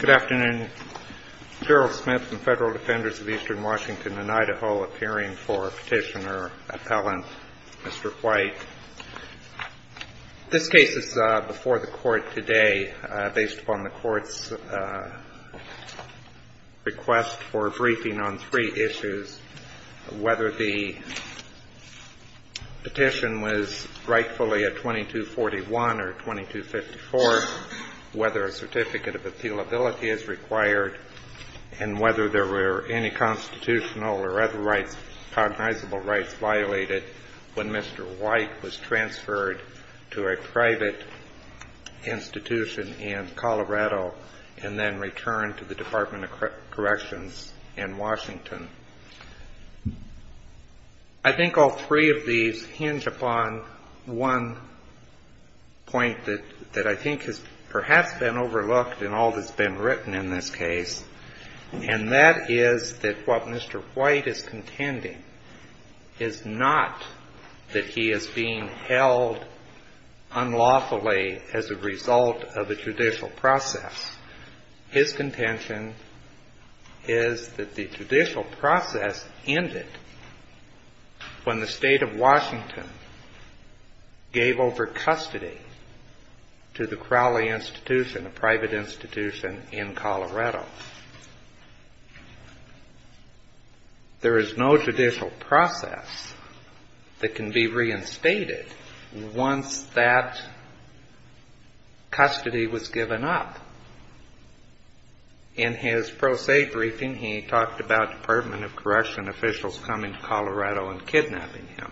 Good afternoon, Gerald Smith and Federal Defenders of Eastern Washington and Idaho appearing for Petitioner Appellant Mr. White. This case is before the Court today based upon the Court's request for a briefing on three issues, whether the petition was rightfully a 2241 or 2254, whether a Certificate of Appealability is required, and whether there were any constitutional or other rights, cognizable rights violated when Mr. White filed the petition. Mr. White was transferred to a private institution in Colorado and then returned to the Department of Corrections in Washington. I think all three of these hinge upon one point that I think has perhaps been overlooked in all that's been written in this case, and that is that what Mr. White is contending is not that he is being held unlawfully as a result of a judicial process. His contention is that the judicial process ended when the State of Washington gave over custody to the Crowley Institution, a private institution in Colorado. There is no judicial process that can be reinstated once that custody was given up. In his pro se briefing, he talked about Department of Corrections officials coming to Colorado and kidnapping him.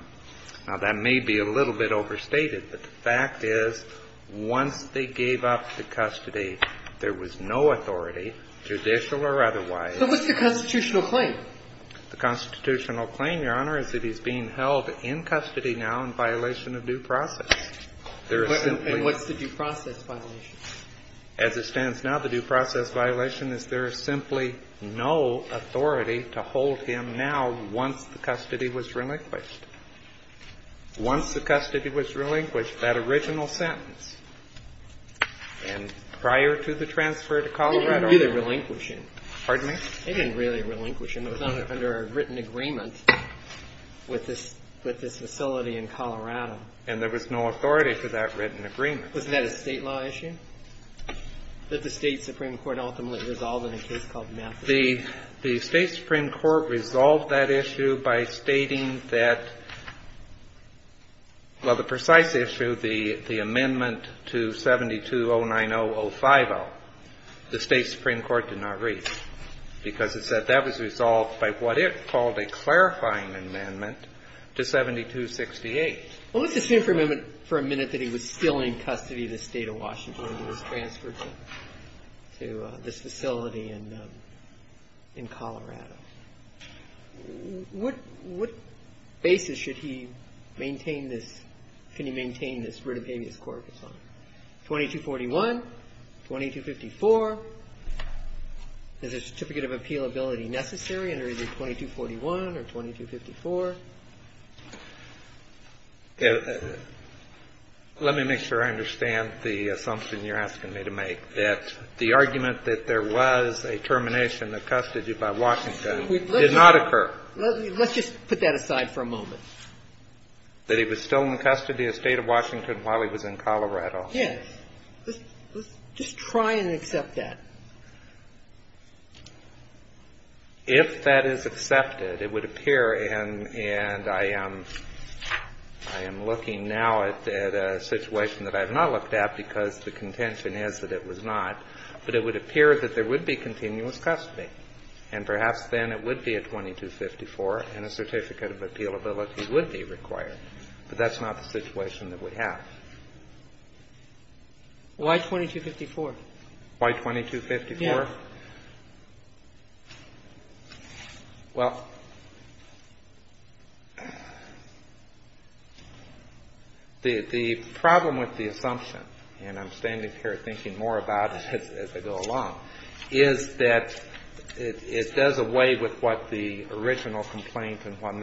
Now, that may be a little bit overstated, but the fact is once they gave up the custody, there was no authority, judicial or otherwise. But what's the constitutional claim? The constitutional claim, Your Honor, is that he's being held in custody now in violation of due process. And what's the due process violation? As it stands now, the due process violation is there is simply no authority to hold him now once the custody was relinquished. Once the custody was relinquished, that original sentence, and prior to the transfer to Colorado. They didn't really relinquish him. Pardon me? They didn't really relinquish him. It was under a written agreement with this facility in Colorado. And there was no authority to that written agreement. Wasn't that a State law issue that the State Supreme Court ultimately resolved in a case called Massachusetts? The State Supreme Court resolved that issue by stating that, well, the precise issue, the amendment to 72090-050, the State Supreme Court did not read. Because it said that was resolved by what it called a clarifying amendment to 7268. Well, let's assume for a minute that he was still in custody in the State of Washington when he was transferred to this facility in Colorado. What basis should he maintain this, can he maintain this writ of habeas corpus on? 2241, 2254. Is a certificate of appealability necessary under either 2241 or 2254? Let me make sure I understand the assumption you're asking me to make, that the argument that there was a termination of custody by Washington did not occur. Let's just put that aside for a moment. That he was still in custody in the State of Washington while he was in Colorado. Yes. Let's just try and accept that. If that is accepted, it would appear, and I am looking now at a situation that I have not looked at because the contention is that it was not, but it would appear that there would be continuous custody, and perhaps then it would be a 2254 and a certificate of appealability would be required. But that's not the situation that we have. Why 2254? Why 2254? Yes. Well, the problem with the assumption, and I'm standing here thinking more about it as I go along, is that it does away with what the original complaint and what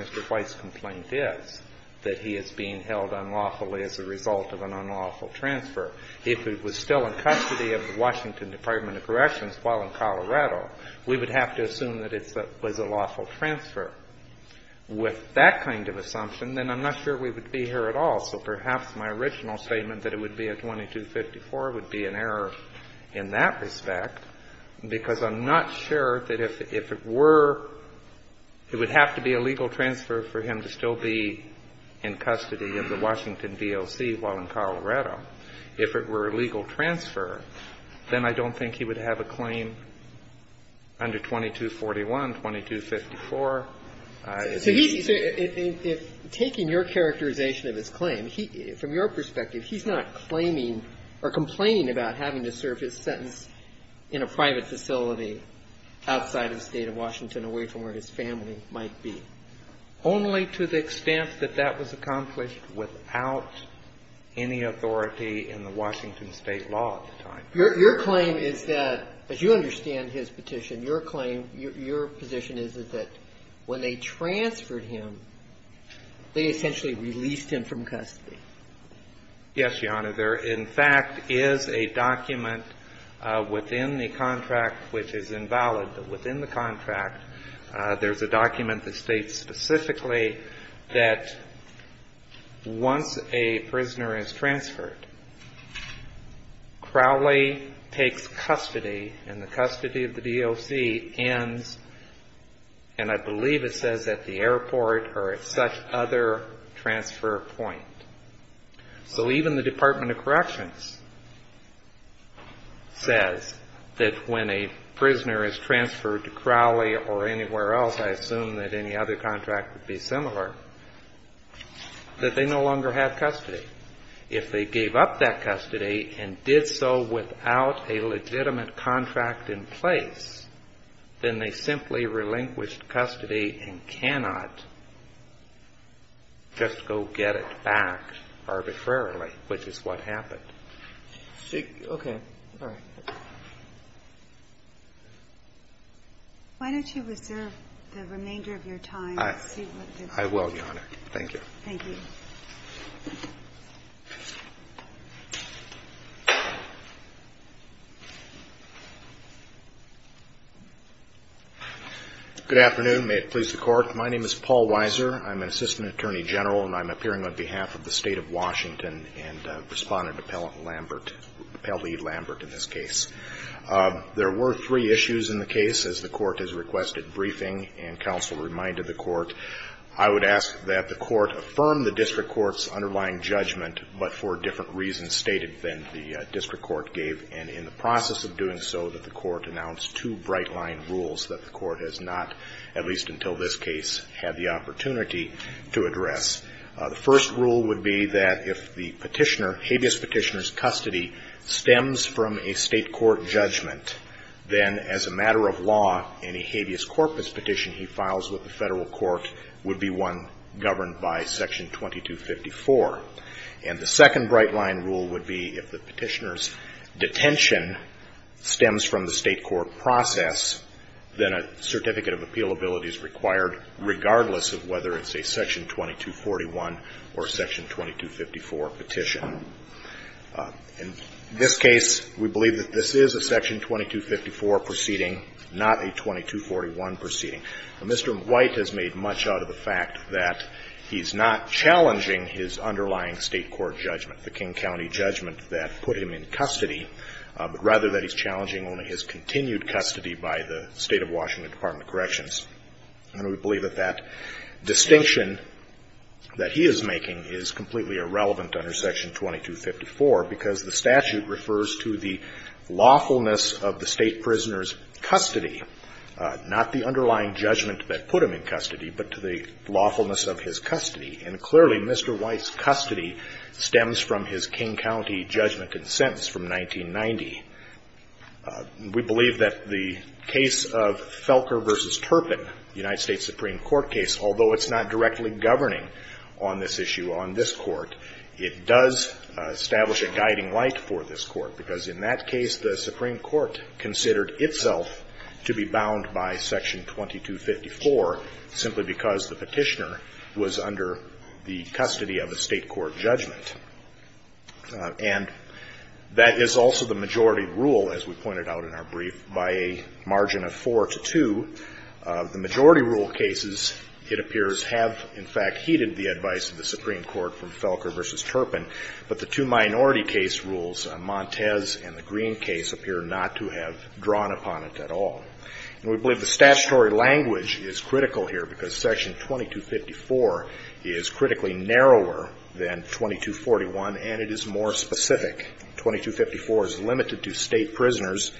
is being held unlawfully as a result of an unlawful transfer. If it was still in custody of the Washington Department of Corrections while in Colorado, we would have to assume that it was a lawful transfer. With that kind of assumption, then I'm not sure we would be here at all. So perhaps my original statement that it would be a 2254 would be an error in that respect, because I'm not sure that if it were, it would have to be a legal transfer for him to still be in custody of the Washington D.O.C. while in Colorado. If it were a legal transfer, then I don't think he would have a claim under 2241, 2254. So he's, if taking your characterization of his claim, from your perspective, he's not claiming or complaining about having to serve his sentence in a private facility outside of the State of Washington away from where his family might be? Only to the extent that that was accomplished without any authority in the Washington State law at the time. Your claim is that, as you understand his petition, your claim, your position is that when they transferred him, they essentially released him from custody. Yes, Your Honor. There, in fact, is a document within the contract which is invalid. But within the contract, there's a document that states specifically that once a prisoner is transferred, Crowley takes custody, and the custody of the D.O.C. ends, and I believe it says at the airport or at such other transfer point. So even the Department of Corrections says that when a prisoner is transferred to Crowley or anywhere else, I assume that any other contract would be similar, that they no longer have custody. If they gave up that custody and did so without a legitimate contract in place, then they simply relinquished custody and cannot just go get it back arbitrarily, which is what happened. Okay. All right. Why don't you reserve the remainder of your time to see what this is? I will, Your Honor. Thank you. Thank you. Good afternoon. May it please the Court. My name is Paul Weiser. I'm an Assistant Attorney General, and I'm appearing on behalf of the State of Washington and respondent Appellant Lambert, Appellee Lambert, in this case. There were three issues in the case, as the Court has requested briefing, and counsel reminded the Court. The first rule would be that if the petitioner, habeas petitioner's custody, stems from a State court judgment, then as a matter of law, any habeas corpus petition he files with the Federal court would be one governed by Section 22. And the second bright line rule would be if the petitioner's detention stems from the State court process, then a certificate of appealability is required regardless of whether it's a Section 2241 or a Section 2254 petition. In this case, we believe that this is a Section 2254 proceeding, not a 2241 proceeding. Mr. White has made much out of the fact that he's not challenging his underlying State court judgment, the King County judgment that put him in custody, but rather that he's challenging only his continued custody by the State of Washington Department of Corrections. And we believe that that distinction that he is making is completely irrelevant under Section 2254 because the statute refers to the lawfulness of the State prisoner's judgment that put him in custody, but to the lawfulness of his custody. And clearly, Mr. White's custody stems from his King County judgment and sentence from 1990. We believe that the case of Felker v. Turpin, the United States Supreme Court case, although it's not directly governing on this issue on this Court, it does establish a guiding light for this Court, because in that case, the Supreme Court considered itself to be bound by Section 2254 simply because the Petitioner was under the custody of a State court judgment. And that is also the majority rule, as we pointed out in our brief, by a margin of 4 to 2. The majority rule cases, it appears, have in fact heeded the advice of the Supreme Court from Felker v. Turpin, but the two minority case rules, Montez and the Green case, appear not to have drawn upon it at all. And we believe the statutory language is critical here because Section 2254 is critically narrower than 2241, and it is more specific. 2254 is limited to State prisoners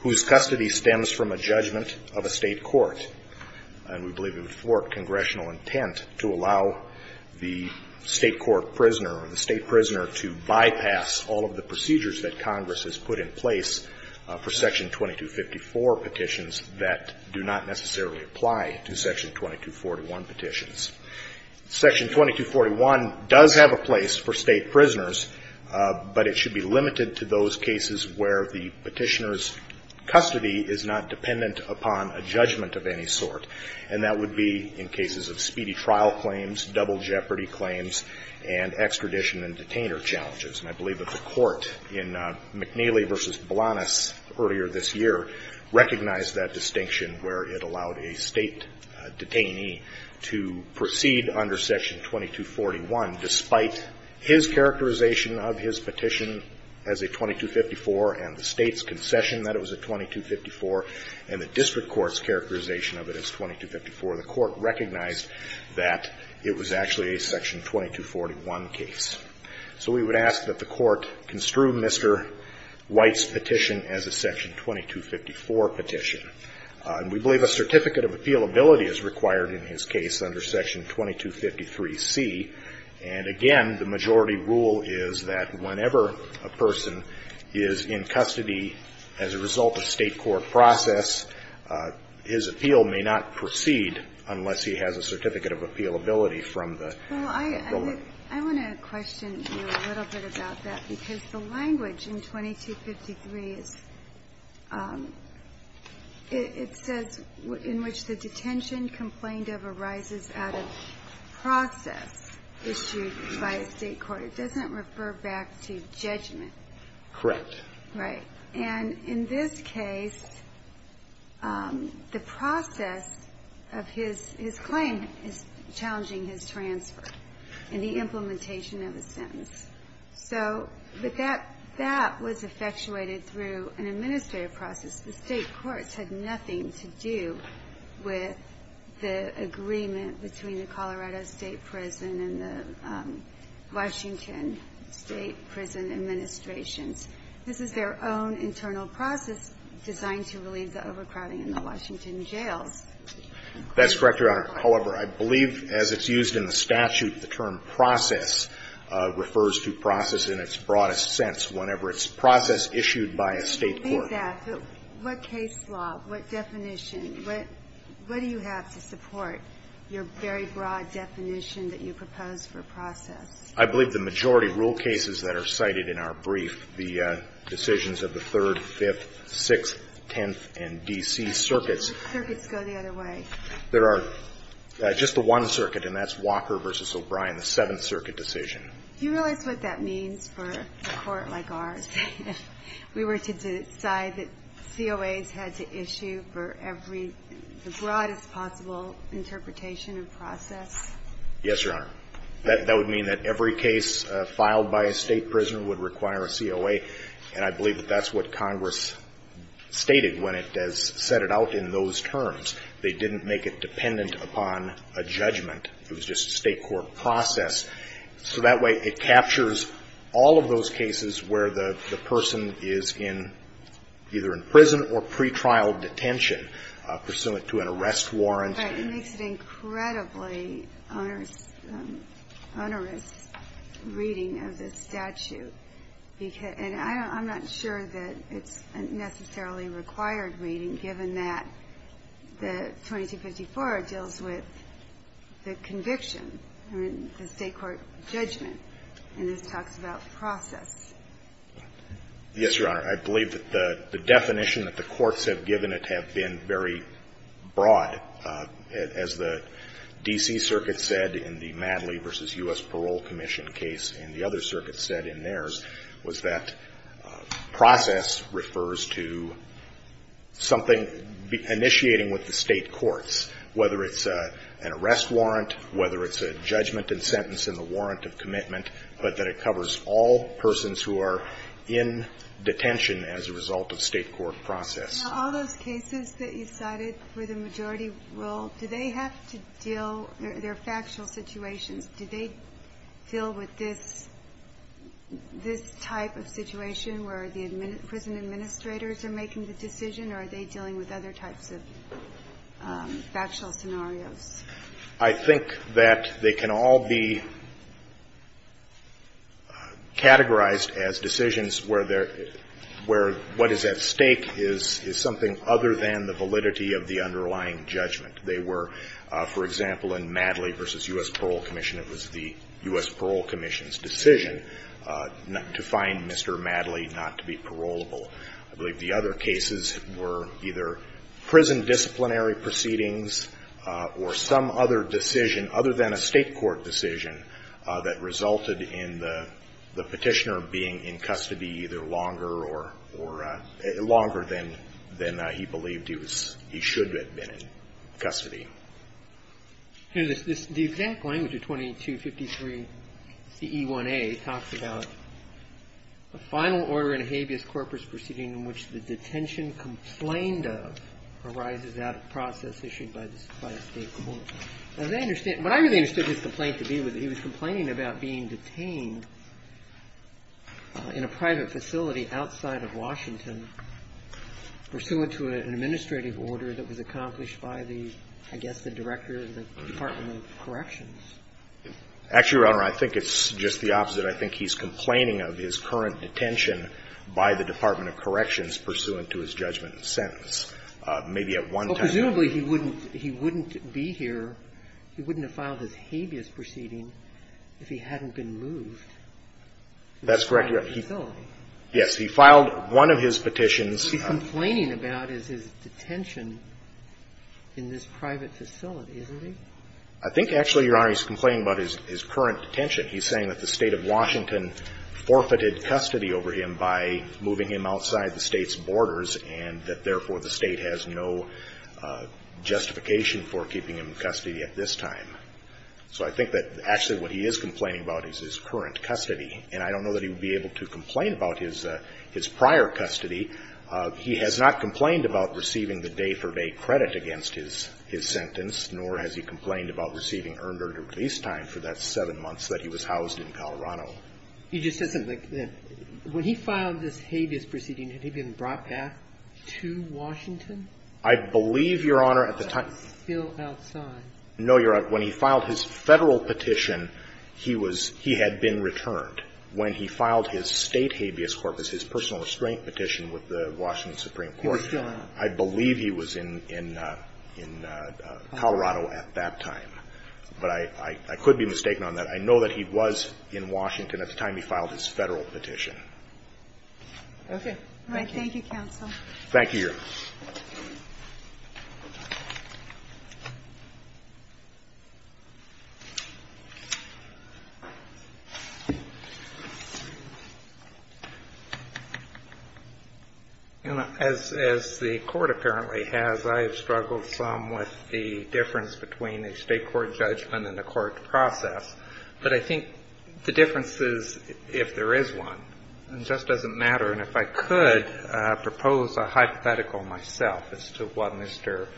whose custody stems from a judgment of a State court. And we believe it would thwart congressional intent to allow the State court prisoner or the State prisoner to bypass all of the procedures that Congress has put in place for Section 2254 petitions that do not necessarily apply to Section 2241 petitions. Section 2241 does have a place for State prisoners, but it should be limited to those cases where the Petitioner's custody is not dependent upon a judgment of any sort. And that would be in cases of speedy trial claims, double jeopardy claims, and extradition and detainer challenges. And I believe that the Court in McNeely v. Blanas earlier this year recognized that distinction where it allowed a State detainee to proceed under Section 2241 despite his characterization of his petition as a 2254 and the State's concession that it was a 2254 and the district court's characterization of it as 2254. The Court recognized that it was actually a Section 2241 case. So we would ask that the Court construe Mr. White's petition as a Section 2254 petition. And we believe a certificate of appealability is required in his case under Section 2253C. And again, the majority rule is that whenever a person is in custody as a result of State court process, his appeal may not proceed unless he has a certificate of appealability from the government. Well, I want to question you a little bit about that, because the language in 2253 is – it says in which the detention complained of arises out of process issued by a State court. It doesn't refer back to judgment. Correct. Right. And in this case, the process of his claim is challenging his transfer and the implementation of a sentence. So with that, that was effectuated through an administrative process. The State courts had nothing to do with the agreement between the Colorado State prison and the Washington State prison administrations. This is their own internal process designed to relieve the overcrowding in the Washington That's correct, Your Honor. However, I believe as it's used in the statute, the term process refers to process in its broadest sense, whenever it's process issued by a State court. What case law, what definition, what do you have to support your very broad definition that you propose for process? I believe the majority rule cases that are cited in our brief, the decisions of the 3rd, 5th, 6th, 10th, and D.C. circuits. Circuits go the other way. There are just the one circuit, and that's Walker v. O'Brien, the 7th circuit decision. Do you realize what that means for a court like ours, if we were to decide that COAs had to issue for every, the broadest possible interpretation of process? Yes, Your Honor. That would mean that every case filed by a State prisoner would require a COA, and I believe that that's what Congress stated when it has set it out in those terms. They didn't make it dependent upon a judgment. It was just a State court process. So that way it captures all of those cases where the person is in, either in prison or pretrial detention pursuant to an arrest warrant. But it makes it incredibly onerous, onerous reading of the statute. And I'm not sure that it's necessarily a required reading, given that the 2254 deals with the conviction, the State court judgment, and this talks about process. Yes, Your Honor. I believe that the definition that the courts have given it have been very broad. As the D.C. circuit said in the Madley v. U.S. Parole Commission case, and the other circuit said in theirs, was that process refers to something initiating with the State courts, whether it's an arrest warrant, whether it's a judgment and sentence in the warrant of commitment, but that it covers all persons who are in detention as a result of State court process. Now, all those cases that you cited with a majority rule, do they have to deal, they're factual situations. Do they deal with this type of situation where the prison administrators are making the decision, or are they dealing with other types of factual scenarios? I think that they can all be categorized as decisions where what is at stake is something other than the validity of the underlying judgment. They were, for example, in Madley v. U.S. Parole Commission, it was the U.S. Parole Commission's decision to find Mr. Madley not to be parolable. I believe the other cases were either prison disciplinary proceedings or some other decision other than a State court decision that resulted in the Petitioner being in custody either longer or longer than he believed he should have been in custody. The exact language of 2253 C.E. 1a talks about a final order in a habeas corpus proceeding in which the detention complained of arises out of process issued by the State court. As I understand, what I really understood his complaint to be was that he was complaining about being detained in a private facility outside of Washington pursuant to an administrative order that was accomplished by the, I guess, the Director of the Department of Corrections. Actually, Your Honor, I think it's just the opposite. I think he's complaining of his current detention by the Department of Corrections pursuant to his judgment sentence. Maybe at one time. Well, presumably he wouldn't be here, he wouldn't have filed his habeas proceeding if he hadn't been moved. That's correct, Your Honor. Yes. He filed one of his petitions. What he's complaining about is his detention in this private facility, isn't he? I think, actually, Your Honor, he's complaining about his current detention. He's saying that the State of Washington forfeited custody over him by moving him outside the State's borders and that, therefore, the State has no justification for keeping him in custody at this time. So I think that actually what he is complaining about is his current custody. And I don't know that he would be able to complain about his prior custody. He has not complained about receiving the day-for-day credit against his sentence, nor has he complained about receiving earned or at least time for that 7 months that he was housed in Colorado. He just said something like, when he filed this habeas proceeding, had he been brought back to Washington? I believe, Your Honor, at the time. Still outside. No, Your Honor. When he filed his Federal petition, he was he had been returned. When he filed his State habeas corpus, his personal restraint petition with the Washington Supreme Court. He was still out. I believe he was in Colorado at that time. But I could be mistaken on that. I know that he was in Washington at the time he filed his Federal petition. Okay. All right. Thank you, counsel. Thank you, Your Honor. As the court apparently has, I have struggled some with the difference between a State court judgment and a court process. But I think the difference is if there is one. It just doesn't matter. And if I could propose a hypothetical, myself. As to what Mr.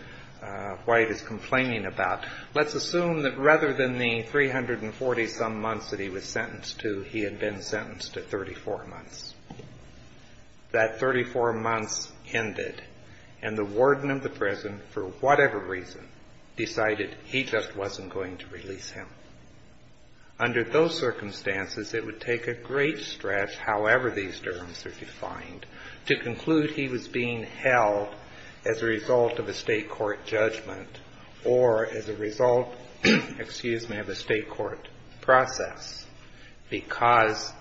White is complaining about. Let's assume that rather than the 340 some months that he was sentenced to, he had been sentenced to 34 months. That 34 months ended. And the warden of the prison, for whatever reason, decided he just wasn't going to release him. Under those circumstances, it would take a great stretch, however these terms are defined, to conclude he was being held as a result of a State court judgment or as a result of a State court process because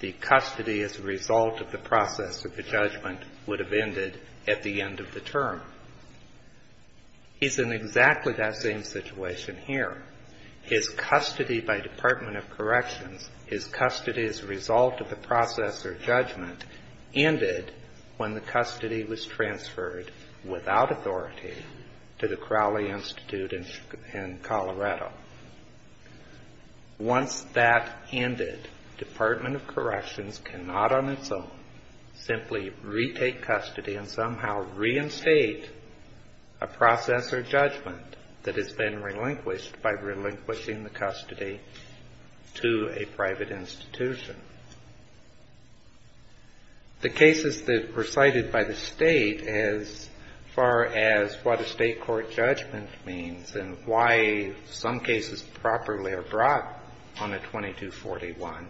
the custody as a result of the process of the judgment would have ended at the end of the term. He's in exactly that same situation here. His custody by Department of Corrections, his custody as a result of the process or judgment ended when the custody was transferred without authority to the Crowley Institute in Colorado. Once that ended, Department of Corrections cannot on its own simply retake custody and somehow reinstate a process or judgment that has been relinquished by relinquishing the custody to a private institution. The cases that were cited by the State as far as what a State court judgment means and why some cases properly are brought on a 2241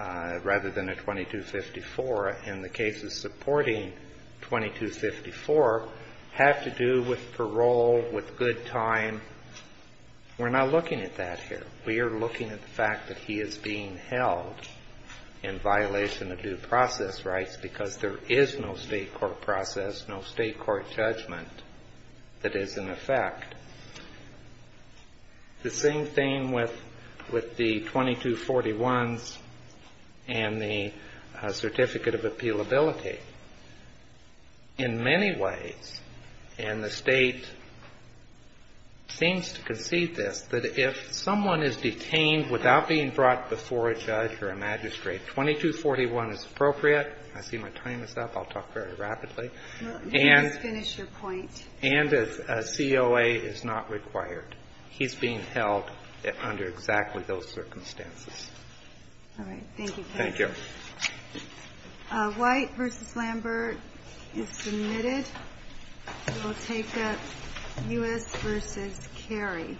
rather than a 2254 and the cases supporting 2254 have to do with parole, with good time. We're not looking at that here. We are looking at the fact that he is being held in violation of due process rights because there is no State court process, no State court judgment that is in effect. The same thing with the 2241s and the Certificate of Appealability. In many ways, and the State seems to concede this, that if someone is being held in violation of due process rights, he is detained without being brought before a judge or a magistrate. 2241 is appropriate. I see my time is up. I'll talk very rapidly. And a COA is not required. He's being held under exactly those circumstances. Thank you. White v. Lambert is submitted. We'll take up U.S. v. Cary.